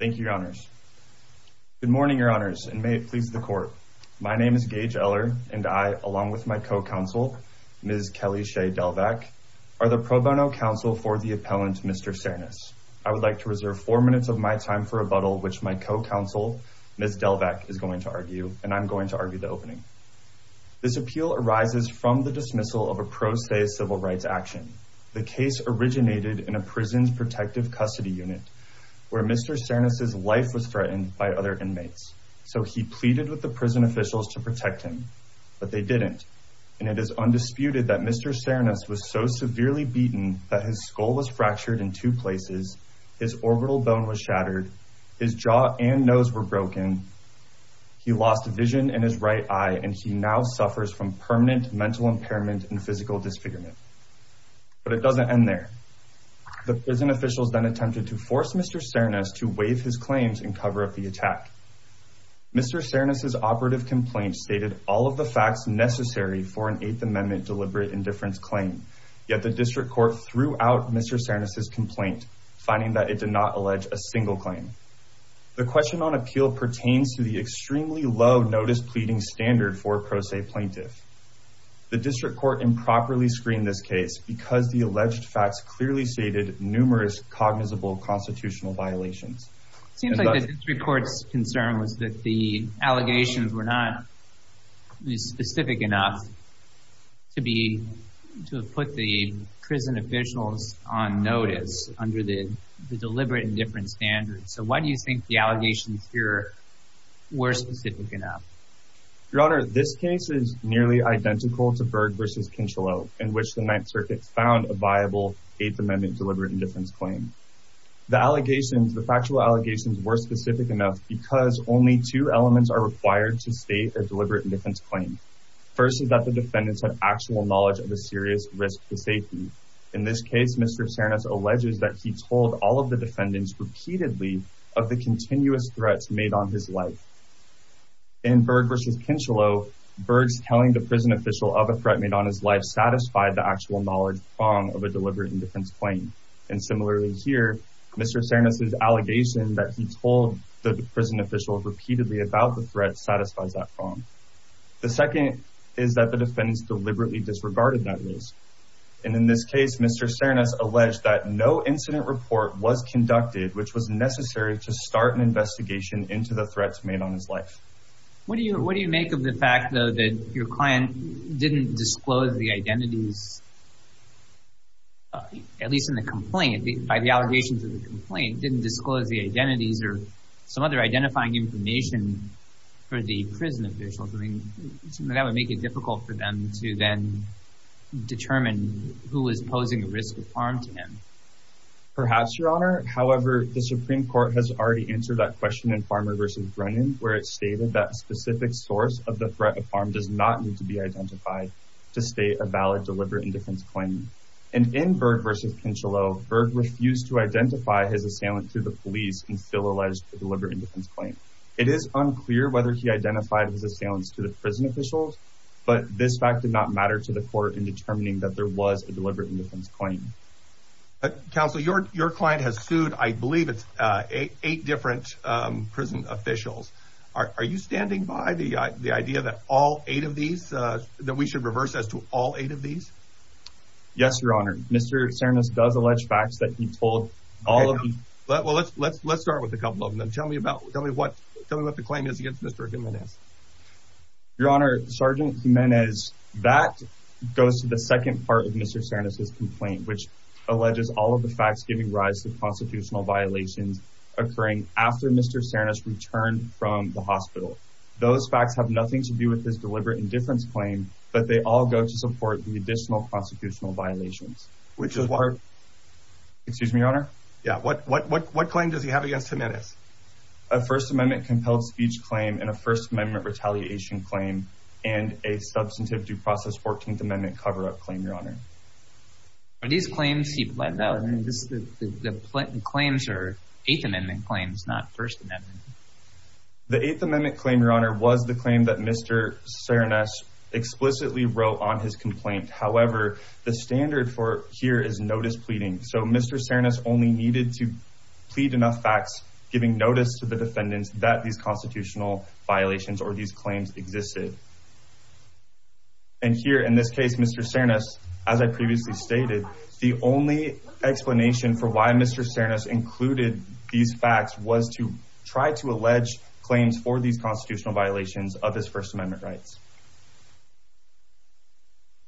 Thank you, Your Honors. Good morning, Your Honors, and may it please the Court. My name is Gage Eller, and I, along with my co-counsel, Ms. Kelly Shea Delvack, are the pro bono counsel for the appellant, Mr. Sernas. I would like to reserve four minutes of my time for rebuttal, which my co-counsel, Ms. Delvack, is going to argue, and I'm going to argue the opening. This appeal arises from the dismissal of a pro se civil rights action. The case originated in a prison's protective custody unit where Mr. Sernas' life was threatened by other inmates, so he pleaded with the prison officials to protect him, but they didn't, and it is undisputed that Mr. Sernas was so severely beaten that his skull was fractured in two places, his orbital bone was shattered, his jaw and nose were broken, he lost vision in his right eye, and he now suffers from permanent mental impairment and but it doesn't end there. The prison officials then attempted to force Mr. Sernas to waive his claims and cover up the attack. Mr. Sernas' operative complaint stated all of the facts necessary for an Eighth Amendment deliberate indifference claim, yet the district court threw out Mr. Sernas' complaint, finding that it did not allege a single claim. The question on appeal pertains to the extremely low notice pleading standard for a pro se plaintiff. The district court improperly screened this case because the alleged facts clearly stated numerous cognizable constitutional violations. It seems like the district court's concern was that the allegations were not specific enough to be to put the prison officials on notice under the deliberate indifference standard, so why do you think the allegations here were specific enough? Your Honor, this case is nearly identical to Berg v. Kincheloe, in which the Ninth Circuit found a viable Eighth Amendment deliberate indifference claim. The allegations, the factual allegations, were specific enough because only two elements are required to state a deliberate indifference claim. First is that the defendants have actual knowledge of the serious risk to safety. In this case, Mr. Sernas alleges that he told all of the defendants repeatedly of the continuous threats made on his life. In Berg v. Kincheloe, Berg's telling the prison official of a threat made on his life satisfied the actual knowledge prong of a deliberate indifference claim. And similarly here, Mr. Sernas' allegation that he told the prison official repeatedly about the threat satisfies that prong. The second is that the defendants deliberately disregarded that risk. And in this case, Mr. Sernas alleged that no incident report was conducted which was necessary to start an investigation into the threats made on his life. What do you make of the fact, though, that your client didn't disclose the identities, at least in the complaint, by the allegations of the complaint, didn't disclose the identities or some other identifying information for the prison officials? I mean, that would make it difficult for them to then determine who was posing a risk of harm to him. Perhaps, Your Honor. However, the Supreme Court has already answered that question in Farmer v. Brennan, where it stated that specific source of the threat of harm does not need to be identified to state a valid deliberate indifference claim. And in Berg v. Kincheloe, Berg refused to identify his assailant to the police and still alleged deliberate indifference claim. It is unclear whether he identified his assailants to the prison officials, but this fact did not matter to the court in determining that there was a deliberate indifference claim. Counsel, your client has sued, I believe, it's eight different prison officials. Are you standing by the idea that all eight of these, that we should reverse as to all eight of these? Yes, Your Honor. Mr. Sernas does allege facts that he told all of them. Well, let's start with a couple of them. Tell me what the claim is against Mr. Jimenez. Your Honor, Sergeant Jimenez, that goes to the second part of Mr. Sernas' complaint, which alleges all of the facts giving rise to constitutional violations occurring after Mr. Sernas returned from the hospital. Those facts have nothing to do with his deliberate indifference claim, but they all go to support the additional constitutional violations. Excuse me, Your Honor? Yeah. What, what, what, what claim does he have against Jimenez? A First Amendment compelled speech claim and a First Amendment retaliation claim and a substantive due process 14th Amendment cover-up claim, Your Honor. Are these claims he bled out? The claims are Eighth Amendment claims, not First Amendment. The Eighth Amendment claim, Your Honor, was the claim that Mr. Sernas explicitly wrote on his complaint. However, the standard for here is notice pleading. So Mr. Sernas only needed to plead enough facts, giving notice to the defendants that these constitutional violations or these claims existed. And here in this case, Mr. Sernas, as I previously stated, the only explanation for why Mr. Sernas included these facts was to try to allege claims for these constitutional violations of his First Amendment rights.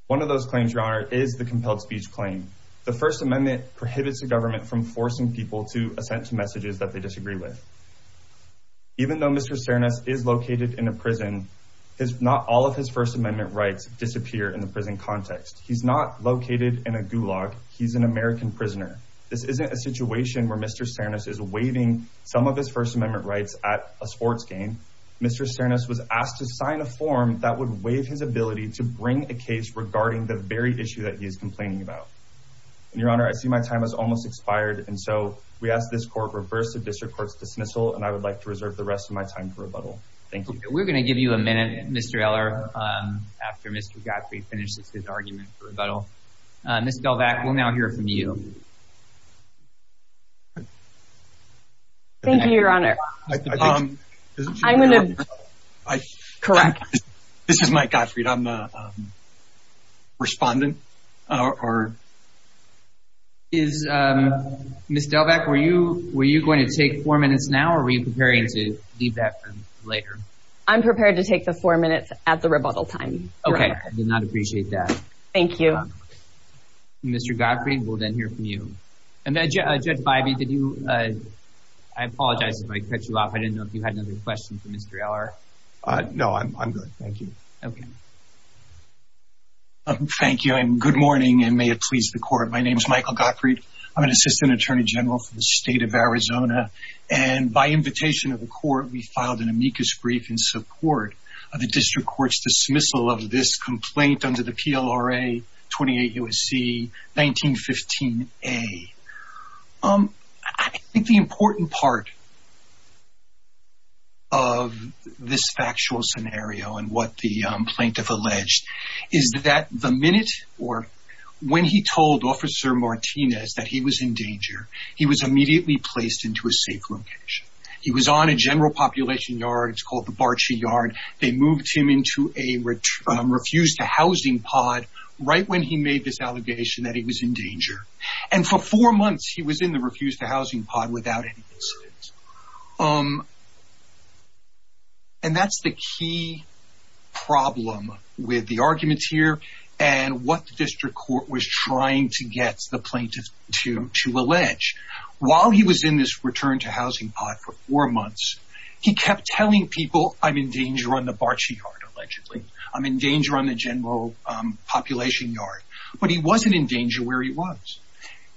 One of those claims, Your Honor, is the compelled speech claim. The First Amendment prohibits the government from forcing people to assent to messages that they disagree with. Even though Mr. Sernas is located in a prison, not all of his First Amendment rights disappear in the prison context. He's not located in a gulag. He's an American prisoner. This isn't a situation where Mr. Sernas is waiving some of his First Amendment rights at a sports game. Mr. Sernas was asked to sign a form that would waive his ability to bring a case regarding the very issue that he is complaining about. And Your Honor, I see my time has almost expired, and so we ask this court reverse the district court's dismissal, and I would like to reserve the rest of my time for rebuttal. Thank you. We're going to give you a minute, Mr. Eller, after Mr. Gottfried finishes his argument for rebuttal. Ms. Belvac, we'll now hear from you. Thank you, Your Honor. I'm going to... This is Mike Gottfried. I'm the respondent. Ms. Belvac, were you going to take four minutes now, or were you preparing to leave that for later? I'm prepared to take the four minutes at the rebuttal time. Okay. I did not appreciate that. Thank you. Mr. Gottfried, we'll then hear from you. Judge Bybee, I apologize if I cut you off. I didn't I'm good. Thank you. Okay. Thank you, and good morning, and may it please the court. My name is Michael Gottfried. I'm an assistant attorney general for the state of Arizona, and by invitation of the court, we filed an amicus brief in support of the district court's dismissal of this complaint under the PLRA 28 U.S.C. 1915A. I think the important part of this factual scenario and what the plaintiff alleged is that the minute, or when he told Officer Martinez that he was in danger, he was immediately placed into a safe location. He was on a general population yard. It's called the Barchi Yard. They moved him into a refused-to-housing pod right when he made this allegation that he was in danger, and for four months, he was in the refused-to-housing pod without any incidents, and that's the key problem with the arguments here and what the district court was trying to get the plaintiff to allege. While he was in this returned-to-housing pod for four months, he kept telling people, I'm in danger on the Barchi Yard, allegedly. I'm in danger on the general population yard, but he wasn't in danger where he was.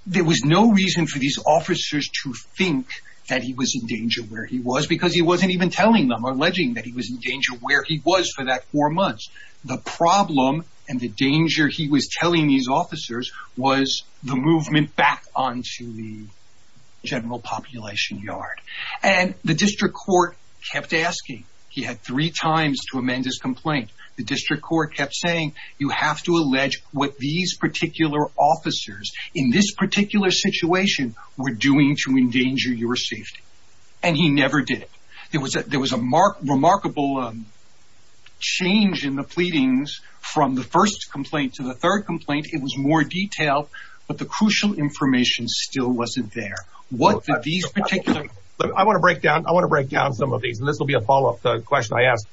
There was no reason for these officers to think that he was in danger where he was because he wasn't even telling them, alleging that he was in danger where he was for that four months. The problem and the danger he was telling these officers was the movement back onto the and the district court kept asking. He had three times to amend his complaint. The district court kept saying, you have to allege what these particular officers in this particular situation were doing to endanger your safety, and he never did. There was a remarkable change in the pleadings from the first complaint to the third complaint. It was more detailed, but the crucial information still wasn't there. I want to break down some of these, and this will be a follow-up to the question I asked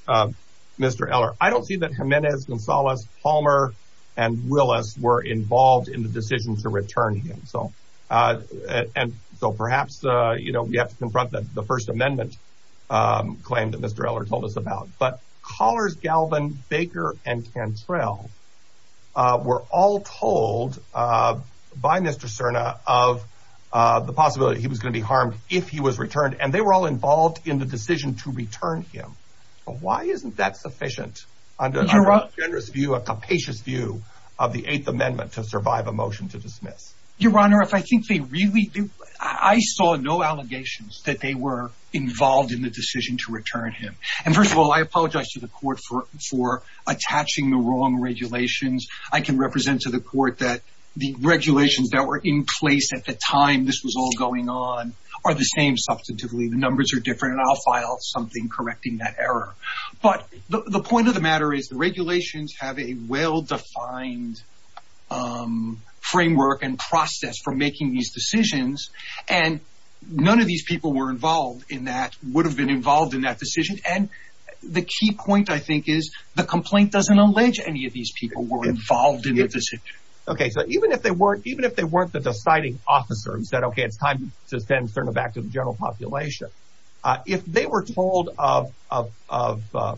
Mr. Eller. I don't see that Jimenez, Gonzalez, Palmer, and Willis were involved in the decision to return him. Perhaps we have to confront the First Amendment claim that Mr. Eller told us were all told by Mr. Cerna of the possibility he was going to be harmed if he was returned, and they were all involved in the decision to return him. Why isn't that sufficient under a generous view, a capacious view of the Eighth Amendment to survive a motion to dismiss? Your Honor, if I think they really do, I saw no allegations that they were involved in the decision to return him. First of all, I apologize to the court for attaching the wrong regulations represent to the court that the regulations that were in place at the time this was all going on are the same, substantively. The numbers are different, and I'll file something correcting that error. But the point of the matter is the regulations have a well-defined framework and process for making these decisions, and none of these people were involved in that, would have been involved in that decision. The key point, I think, is the complaint doesn't allege any of these people were involved in the decision. Okay, so even if they weren't the deciding officer who said, okay, it's time to send Cerna back to the general population, if they were told of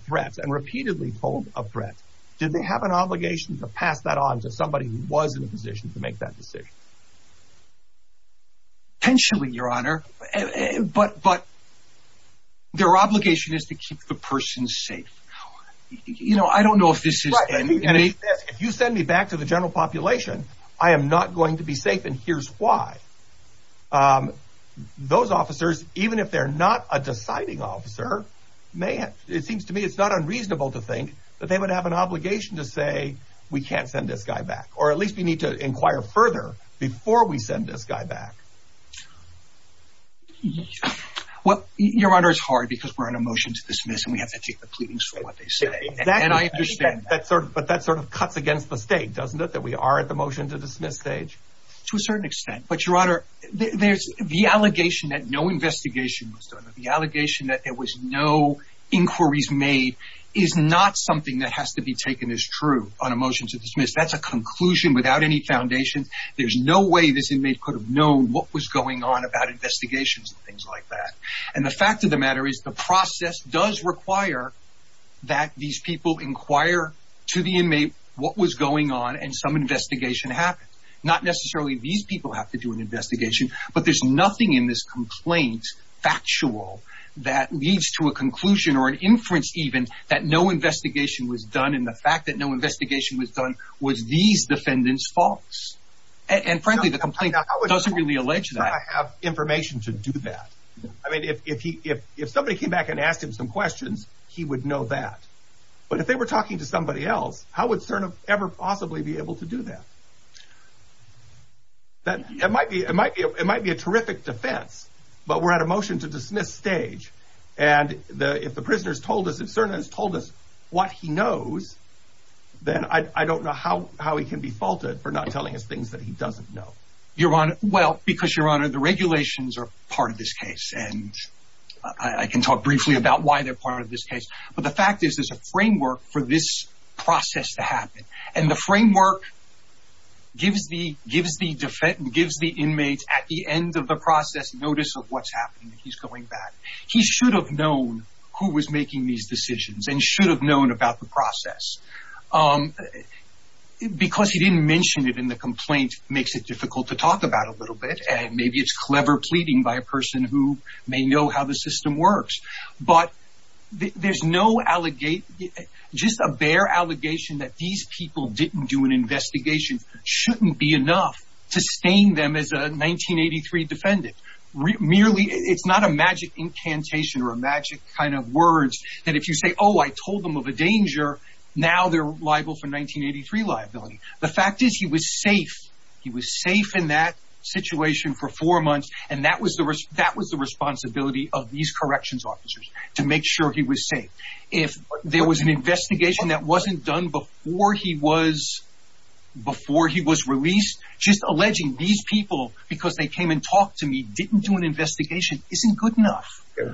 threats and repeatedly told of threats, did they have an obligation to pass that on to somebody who was in a position to make that decision? Potentially, Your Honor, but their obligation is to keep the person safe. You know, I don't know if this is... If you send me back to the general population, I am not going to be safe, and here's why. Those officers, even if they're not a deciding officer, it seems to me it's not unreasonable to think that they would have an obligation to say, we can't send this guy back, or at least we need to inquire further before we send this guy back. Well, Your Honor, it's hard because we're on a motion to dismiss, and we have to take the pleadings for what they say, and I understand that. But that sort of cuts against the state, doesn't it, that we are at the motion to dismiss stage? To a certain extent, but Your Honor, there's the allegation that no investigation was done. The allegation that there was no inquiries made is not something that has to be taken as true on a motion to dismiss. That's a conclusion without any foundations. There's no way this inmate could have known what was going on about investigations and things like that. And the fact of the matter is, the process does require that these people inquire to the inmate what was going on and some investigation happened. Not necessarily these people have to do an investigation, but there's nothing in this complaint, factual, that leads to a conclusion or an inference, even, that no investigation was done, and the fact that no investigation was done was these defendants' faults. And frankly, the complaint doesn't really allege that. How would CERN have information to do that? I mean, if somebody came back and asked him some questions, he would know that. But if they were talking to somebody else, how would CERN ever possibly be able to do that? It might be a terrific defense, but we're at a motion to dismiss stage, and if the prisoners told us, if CERN has told us what he knows, then I don't know how he can be faulted for not telling us things that he doesn't know. Your Honor, well, because, Your Honor, the regulations are part of this case, and I can talk briefly about why they're part of this case, but the fact is, there's a framework for this process to happen, and the framework gives the defendant, gives the inmate, at the end of the process, notice of what's happening, he's going back. He should have known who was making these decisions and should have known about the process. Because he didn't mention it in the complaint makes it difficult to talk about a little bit, and maybe it's clever pleading by a person who may know how the system works. But there's no allegation, just a bare allegation that these people didn't do an investigation shouldn't be enough to stain them as a 1983 defendant. Merely, it's not a magic incantation or a magic kind of words that if you say, oh, I told them of a danger, now they're liable for 1983 liability. The fact is, he was safe. He was safe in that situation for four months, and that was the responsibility of these corrections officers, to make sure he was safe. If there was an investigation that wasn't done before he was released, just alleging these people because they came and talked to me didn't do an investigation isn't good enough.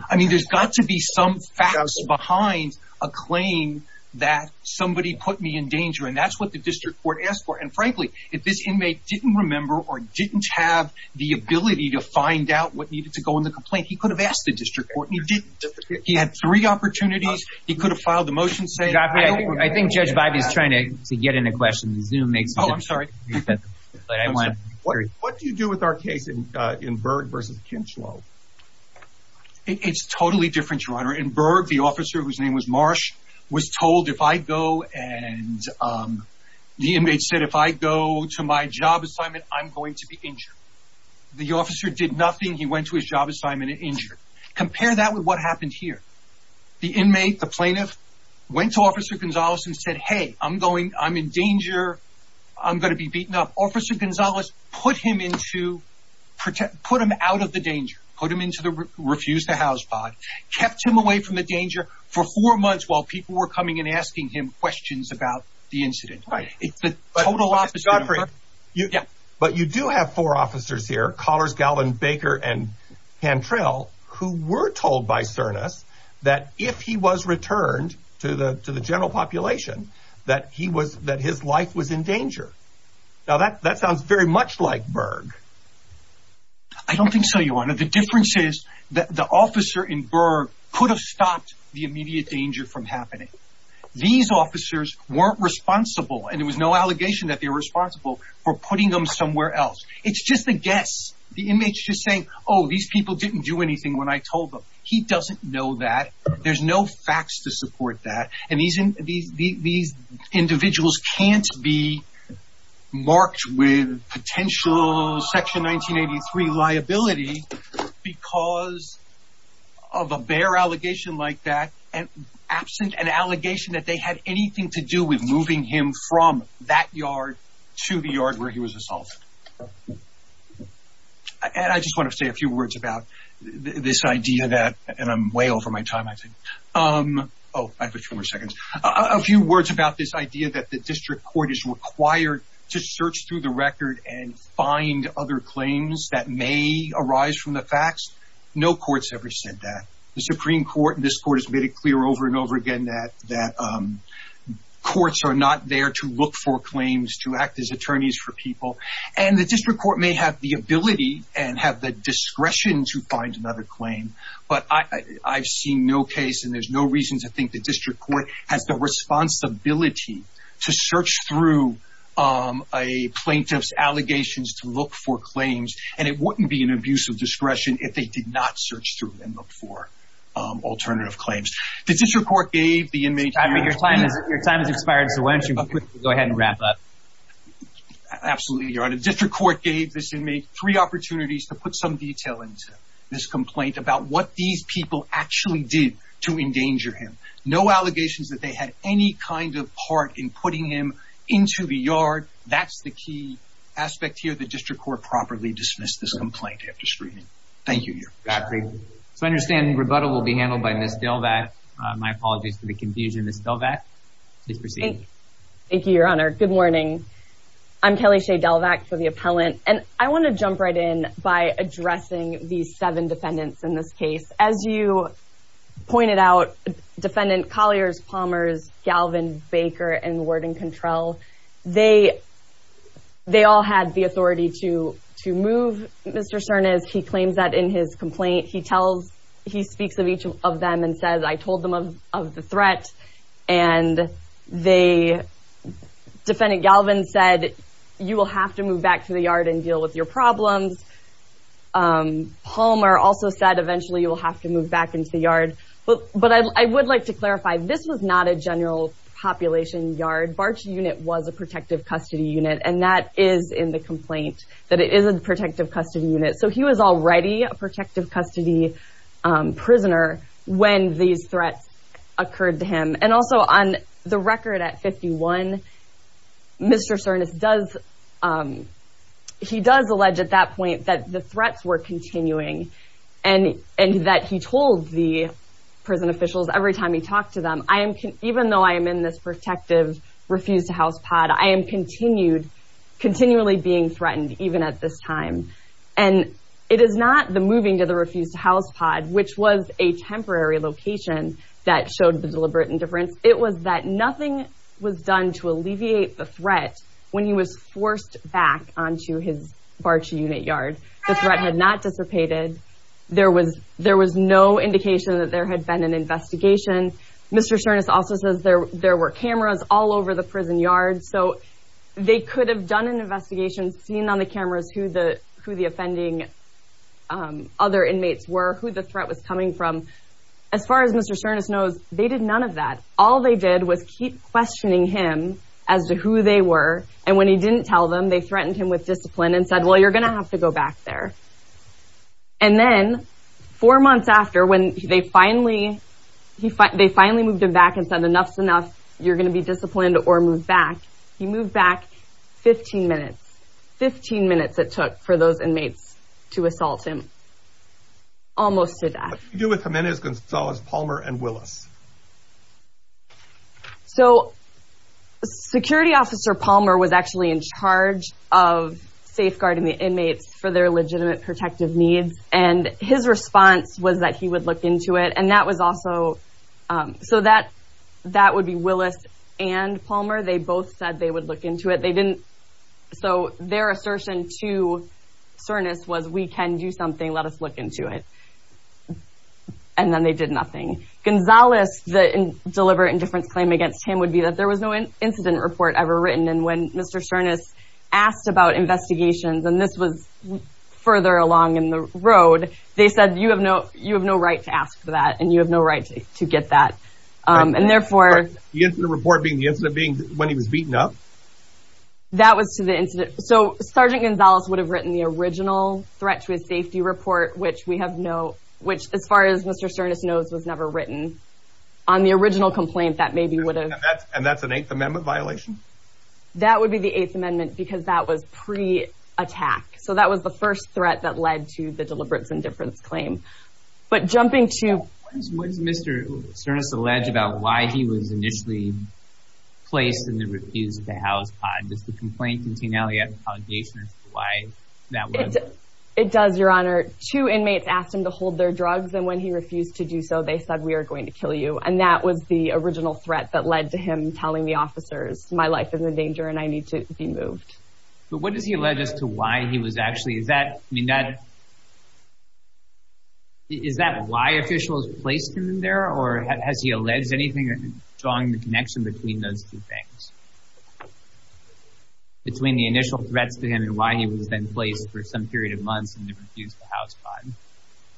I mean, there's got to be some facts behind a claim that somebody put me in danger, and that's what the district court asked for. And frankly, if this inmate didn't remember or didn't have the ability to find out what needed to go in the complaint, he could have asked the district court, and he had three opportunities. He could have filed a motion saying- I think Judge Bivey is trying to get in a question. Zoom makes- Oh, I'm sorry. What do you do with our case in Berg versus Kinchlow? It's totally different, Your Honor. In Berg, the officer, whose name was Marsh, was told if I go and the inmate said, if I go to my job assignment, I'm going to be injured. The officer did nothing. He went to his job assignment and injured. Compare that with what happened here. The inmate, the plaintiff, went to Officer Gonzales and said, hey, I'm in danger. I'm going to be beaten up. Officer Gonzales put him out of the danger, put him into the refuse to house pod, kept him away from the danger for four months while people were coming and asking him questions about the incident. It's the total opposite. But you do have four officers here, Collars, Galvin, Baker, and Cantrell, who were told by Cernus that if he was returned to the general population, that his life was in danger. Now, that sounds very much like Berg. I don't think so, Your Honor. The difference is that the officer in Berg could have stopped the immediate danger from happening. These officers weren't responsible, and there was no allegation that they were responsible for putting them somewhere else. It's just a guess. The inmate's just saying, oh, these people didn't do anything when I told them. He doesn't know that. There's no facts to support that. And these individuals can't be marked with potential Section 1983 liability because of a bare allegation like that, and absent an allegation that they had anything to do with moving him from that yard to the yard where he was assaulted. And I just want to say a few words about this idea that, and I'm way over my time, I think. Oh, I have a few more seconds. A few words about this idea that the district court is required to search through the record and find other claims that may arise from the facts. No court's ever said that. The Supreme Court and this court has made it clear over and over again that courts are not there to look for claims to act as attorneys for people, and the district court may have the ability and have the discretion to find another claim, but I've seen no case, and there's no reason to think the district court has the responsibility to search through a plaintiff's allegations to look for claims, and it wouldn't be an abuse of discretion if they did not search through and look for alternative claims. The district court gave the inmate... Your time has expired, so why don't you quickly go ahead and district court gave this inmate three opportunities to put some detail into this complaint about what these people actually did to endanger him. No allegations that they had any kind of part in putting him into the yard. That's the key aspect here. The district court properly dismissed this complaint after screening. Thank you. So I understand rebuttal will be handled by Ms. Delvatt. My apologies for the confusion. Ms. Delvatt, please proceed. Thank you, Your Honor. Good morning. I'm Kelly Shea Delvatt for the appellant, and I want to jump right in by addressing these seven defendants in this case. As you pointed out, defendant Colliers, Palmers, Galvin, Baker, and Warden Control, they all had the authority to move Mr. Cernas. He claims that in his complaint. He speaks of each of them and says, I told them of the the defendant Galvin said, you will have to move back to the yard and deal with your problems. Palmer also said eventually you will have to move back into the yard. But I would like to clarify, this was not a general population yard. Barch unit was a protective custody unit, and that is in the complaint, that it is a protective custody unit. So he was already a protective custody unit at 51. Mr. Cernas does, he does allege at that point that the threats were continuing and that he told the prison officials every time he talked to them, I am, even though I am in this protective refuse to house pod, I am continued, continually being threatened, even at this time. And it is not the moving to the refuse to house pod, which was a temporary location that showed the deliberate indifference. It was that nothing was done to alleviate the threat when he was forced back onto his Barch unit yard. The threat had not dissipated. There was, there was no indication that there had been an investigation. Mr. Cernas also says there, there were cameras all over the prison yard. So they could have done an investigation, seen on the cameras who the, who the offending other inmates were, who the threat was coming from. As far as Mr. Cernas knows, they did none of that. All they did was keep questioning him as to who they were. And when he didn't tell them, they threatened him with discipline and said, well, you're going to have to go back there. And then four months after, when they finally, he, they finally moved him back and said, enough's enough. You're going to be disciplined or move back. He moved back 15 minutes, 15 minutes it took for those inmates to assault him almost to death. What did you do with Jimenez-Gonzalez, Palmer and Willis? So security officer Palmer was actually in charge of safeguarding the inmates for their legitimate protective needs. And his response was that he would look into it. And that was also, so that, that would be Willis and Palmer. They both said they would look into it. They didn't. So their assertion to Cernas was, we can do something, let us look into it. And then they did nothing. Gonzalez, the deliberate indifference claim against him would be that there was no incident report ever written. And when Mr. Cernas asked about investigations, and this was further along in the road, they said, you have no, you have no right to ask for that. And you have no right to get that. And therefore. The incident report being when he was beaten up. That was to the incident. So Sergeant Gonzalez would have written the original threat to his safety report, which we have no, which as far as Mr. Cernas knows, was never written. On the original complaint that maybe would have. And that's an Eighth Amendment violation? That would be the Eighth Amendment because that was pre-attack. So that was the first threat that led to the deliberate indifference claim. But jumping to. What is Mr. Cernas allege about why he was initially placed in the refused to house pod? Does the complaint contain allegations as to why that was? It does, your honor. Two inmates asked him to hold their drugs. And when he refused to do so, they said, we are going to kill you. And that was the original threat that led to him telling the officers, my life is in danger and I need to be moved. But what does he allege as to why he was actually, is that, I mean, that. Is that why officials placed him in there or has he alleged anything drawing the connection between those two things? Between the initial threats to him and why he was then placed for some period of months in the refused to house pod?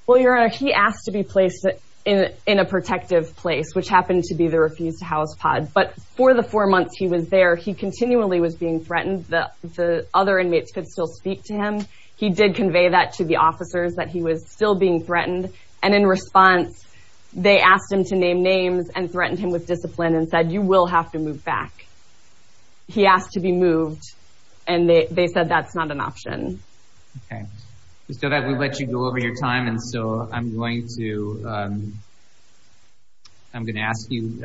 Well, your honor, he asked to be placed in a protective place, which happened to be the refused to house pod. But for the four months he was there, he continually was being threatened that the other inmates could still speak to him. He did convey that to the officers that he was still being threatened. And in response, they asked him to name names and threatened him with discipline and said, you will have to move back. He asked to be moved. And they said, that's not an option. Okay. Just know that we let you go over your time. And so I'm going to, I'm going to ask you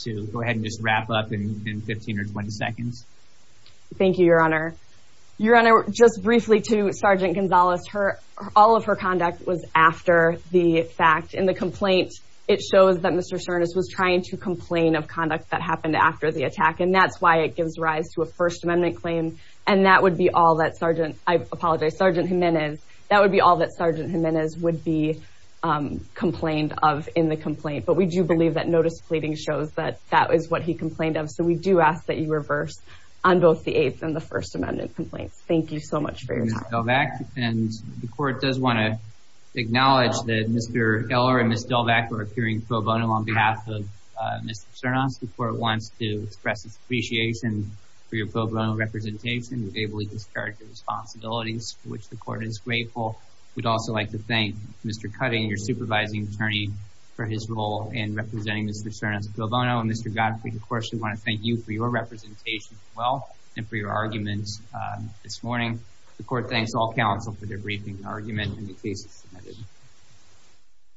to go ahead and just wrap up in 15 or 20 seconds. Thank you, your honor. Your honor, just briefly to Sergeant Gonzalez, her, all of her conduct was after the fact in the complaint, it shows that Mr. Cernus was trying to complain of conduct that happened after the attack. And that's why it gives rise to a first amendment claim. And that would be all that Sergeant, I apologize, Sergeant Jimenez, that would be all that Sergeant Jimenez would be complained of in the complaint. But we do believe that notice pleading shows that that is what he complained of. So we do ask that you reverse on both the eighth and the first amendment complaints. Thank you so much for your time. And the court does want to acknowledge that Mr. Eller and Ms. Delvack were appearing pro bono on behalf of Mr. Cernus. The court wants to express its appreciation for your pro bono representation. You've ably discharged the responsibilities for which the court is grateful. We'd also like to thank Mr. Cutting, your course, we want to thank you for your representation as well and for your arguments this morning. The court thanks all counsel for their briefing argument and the cases submitted.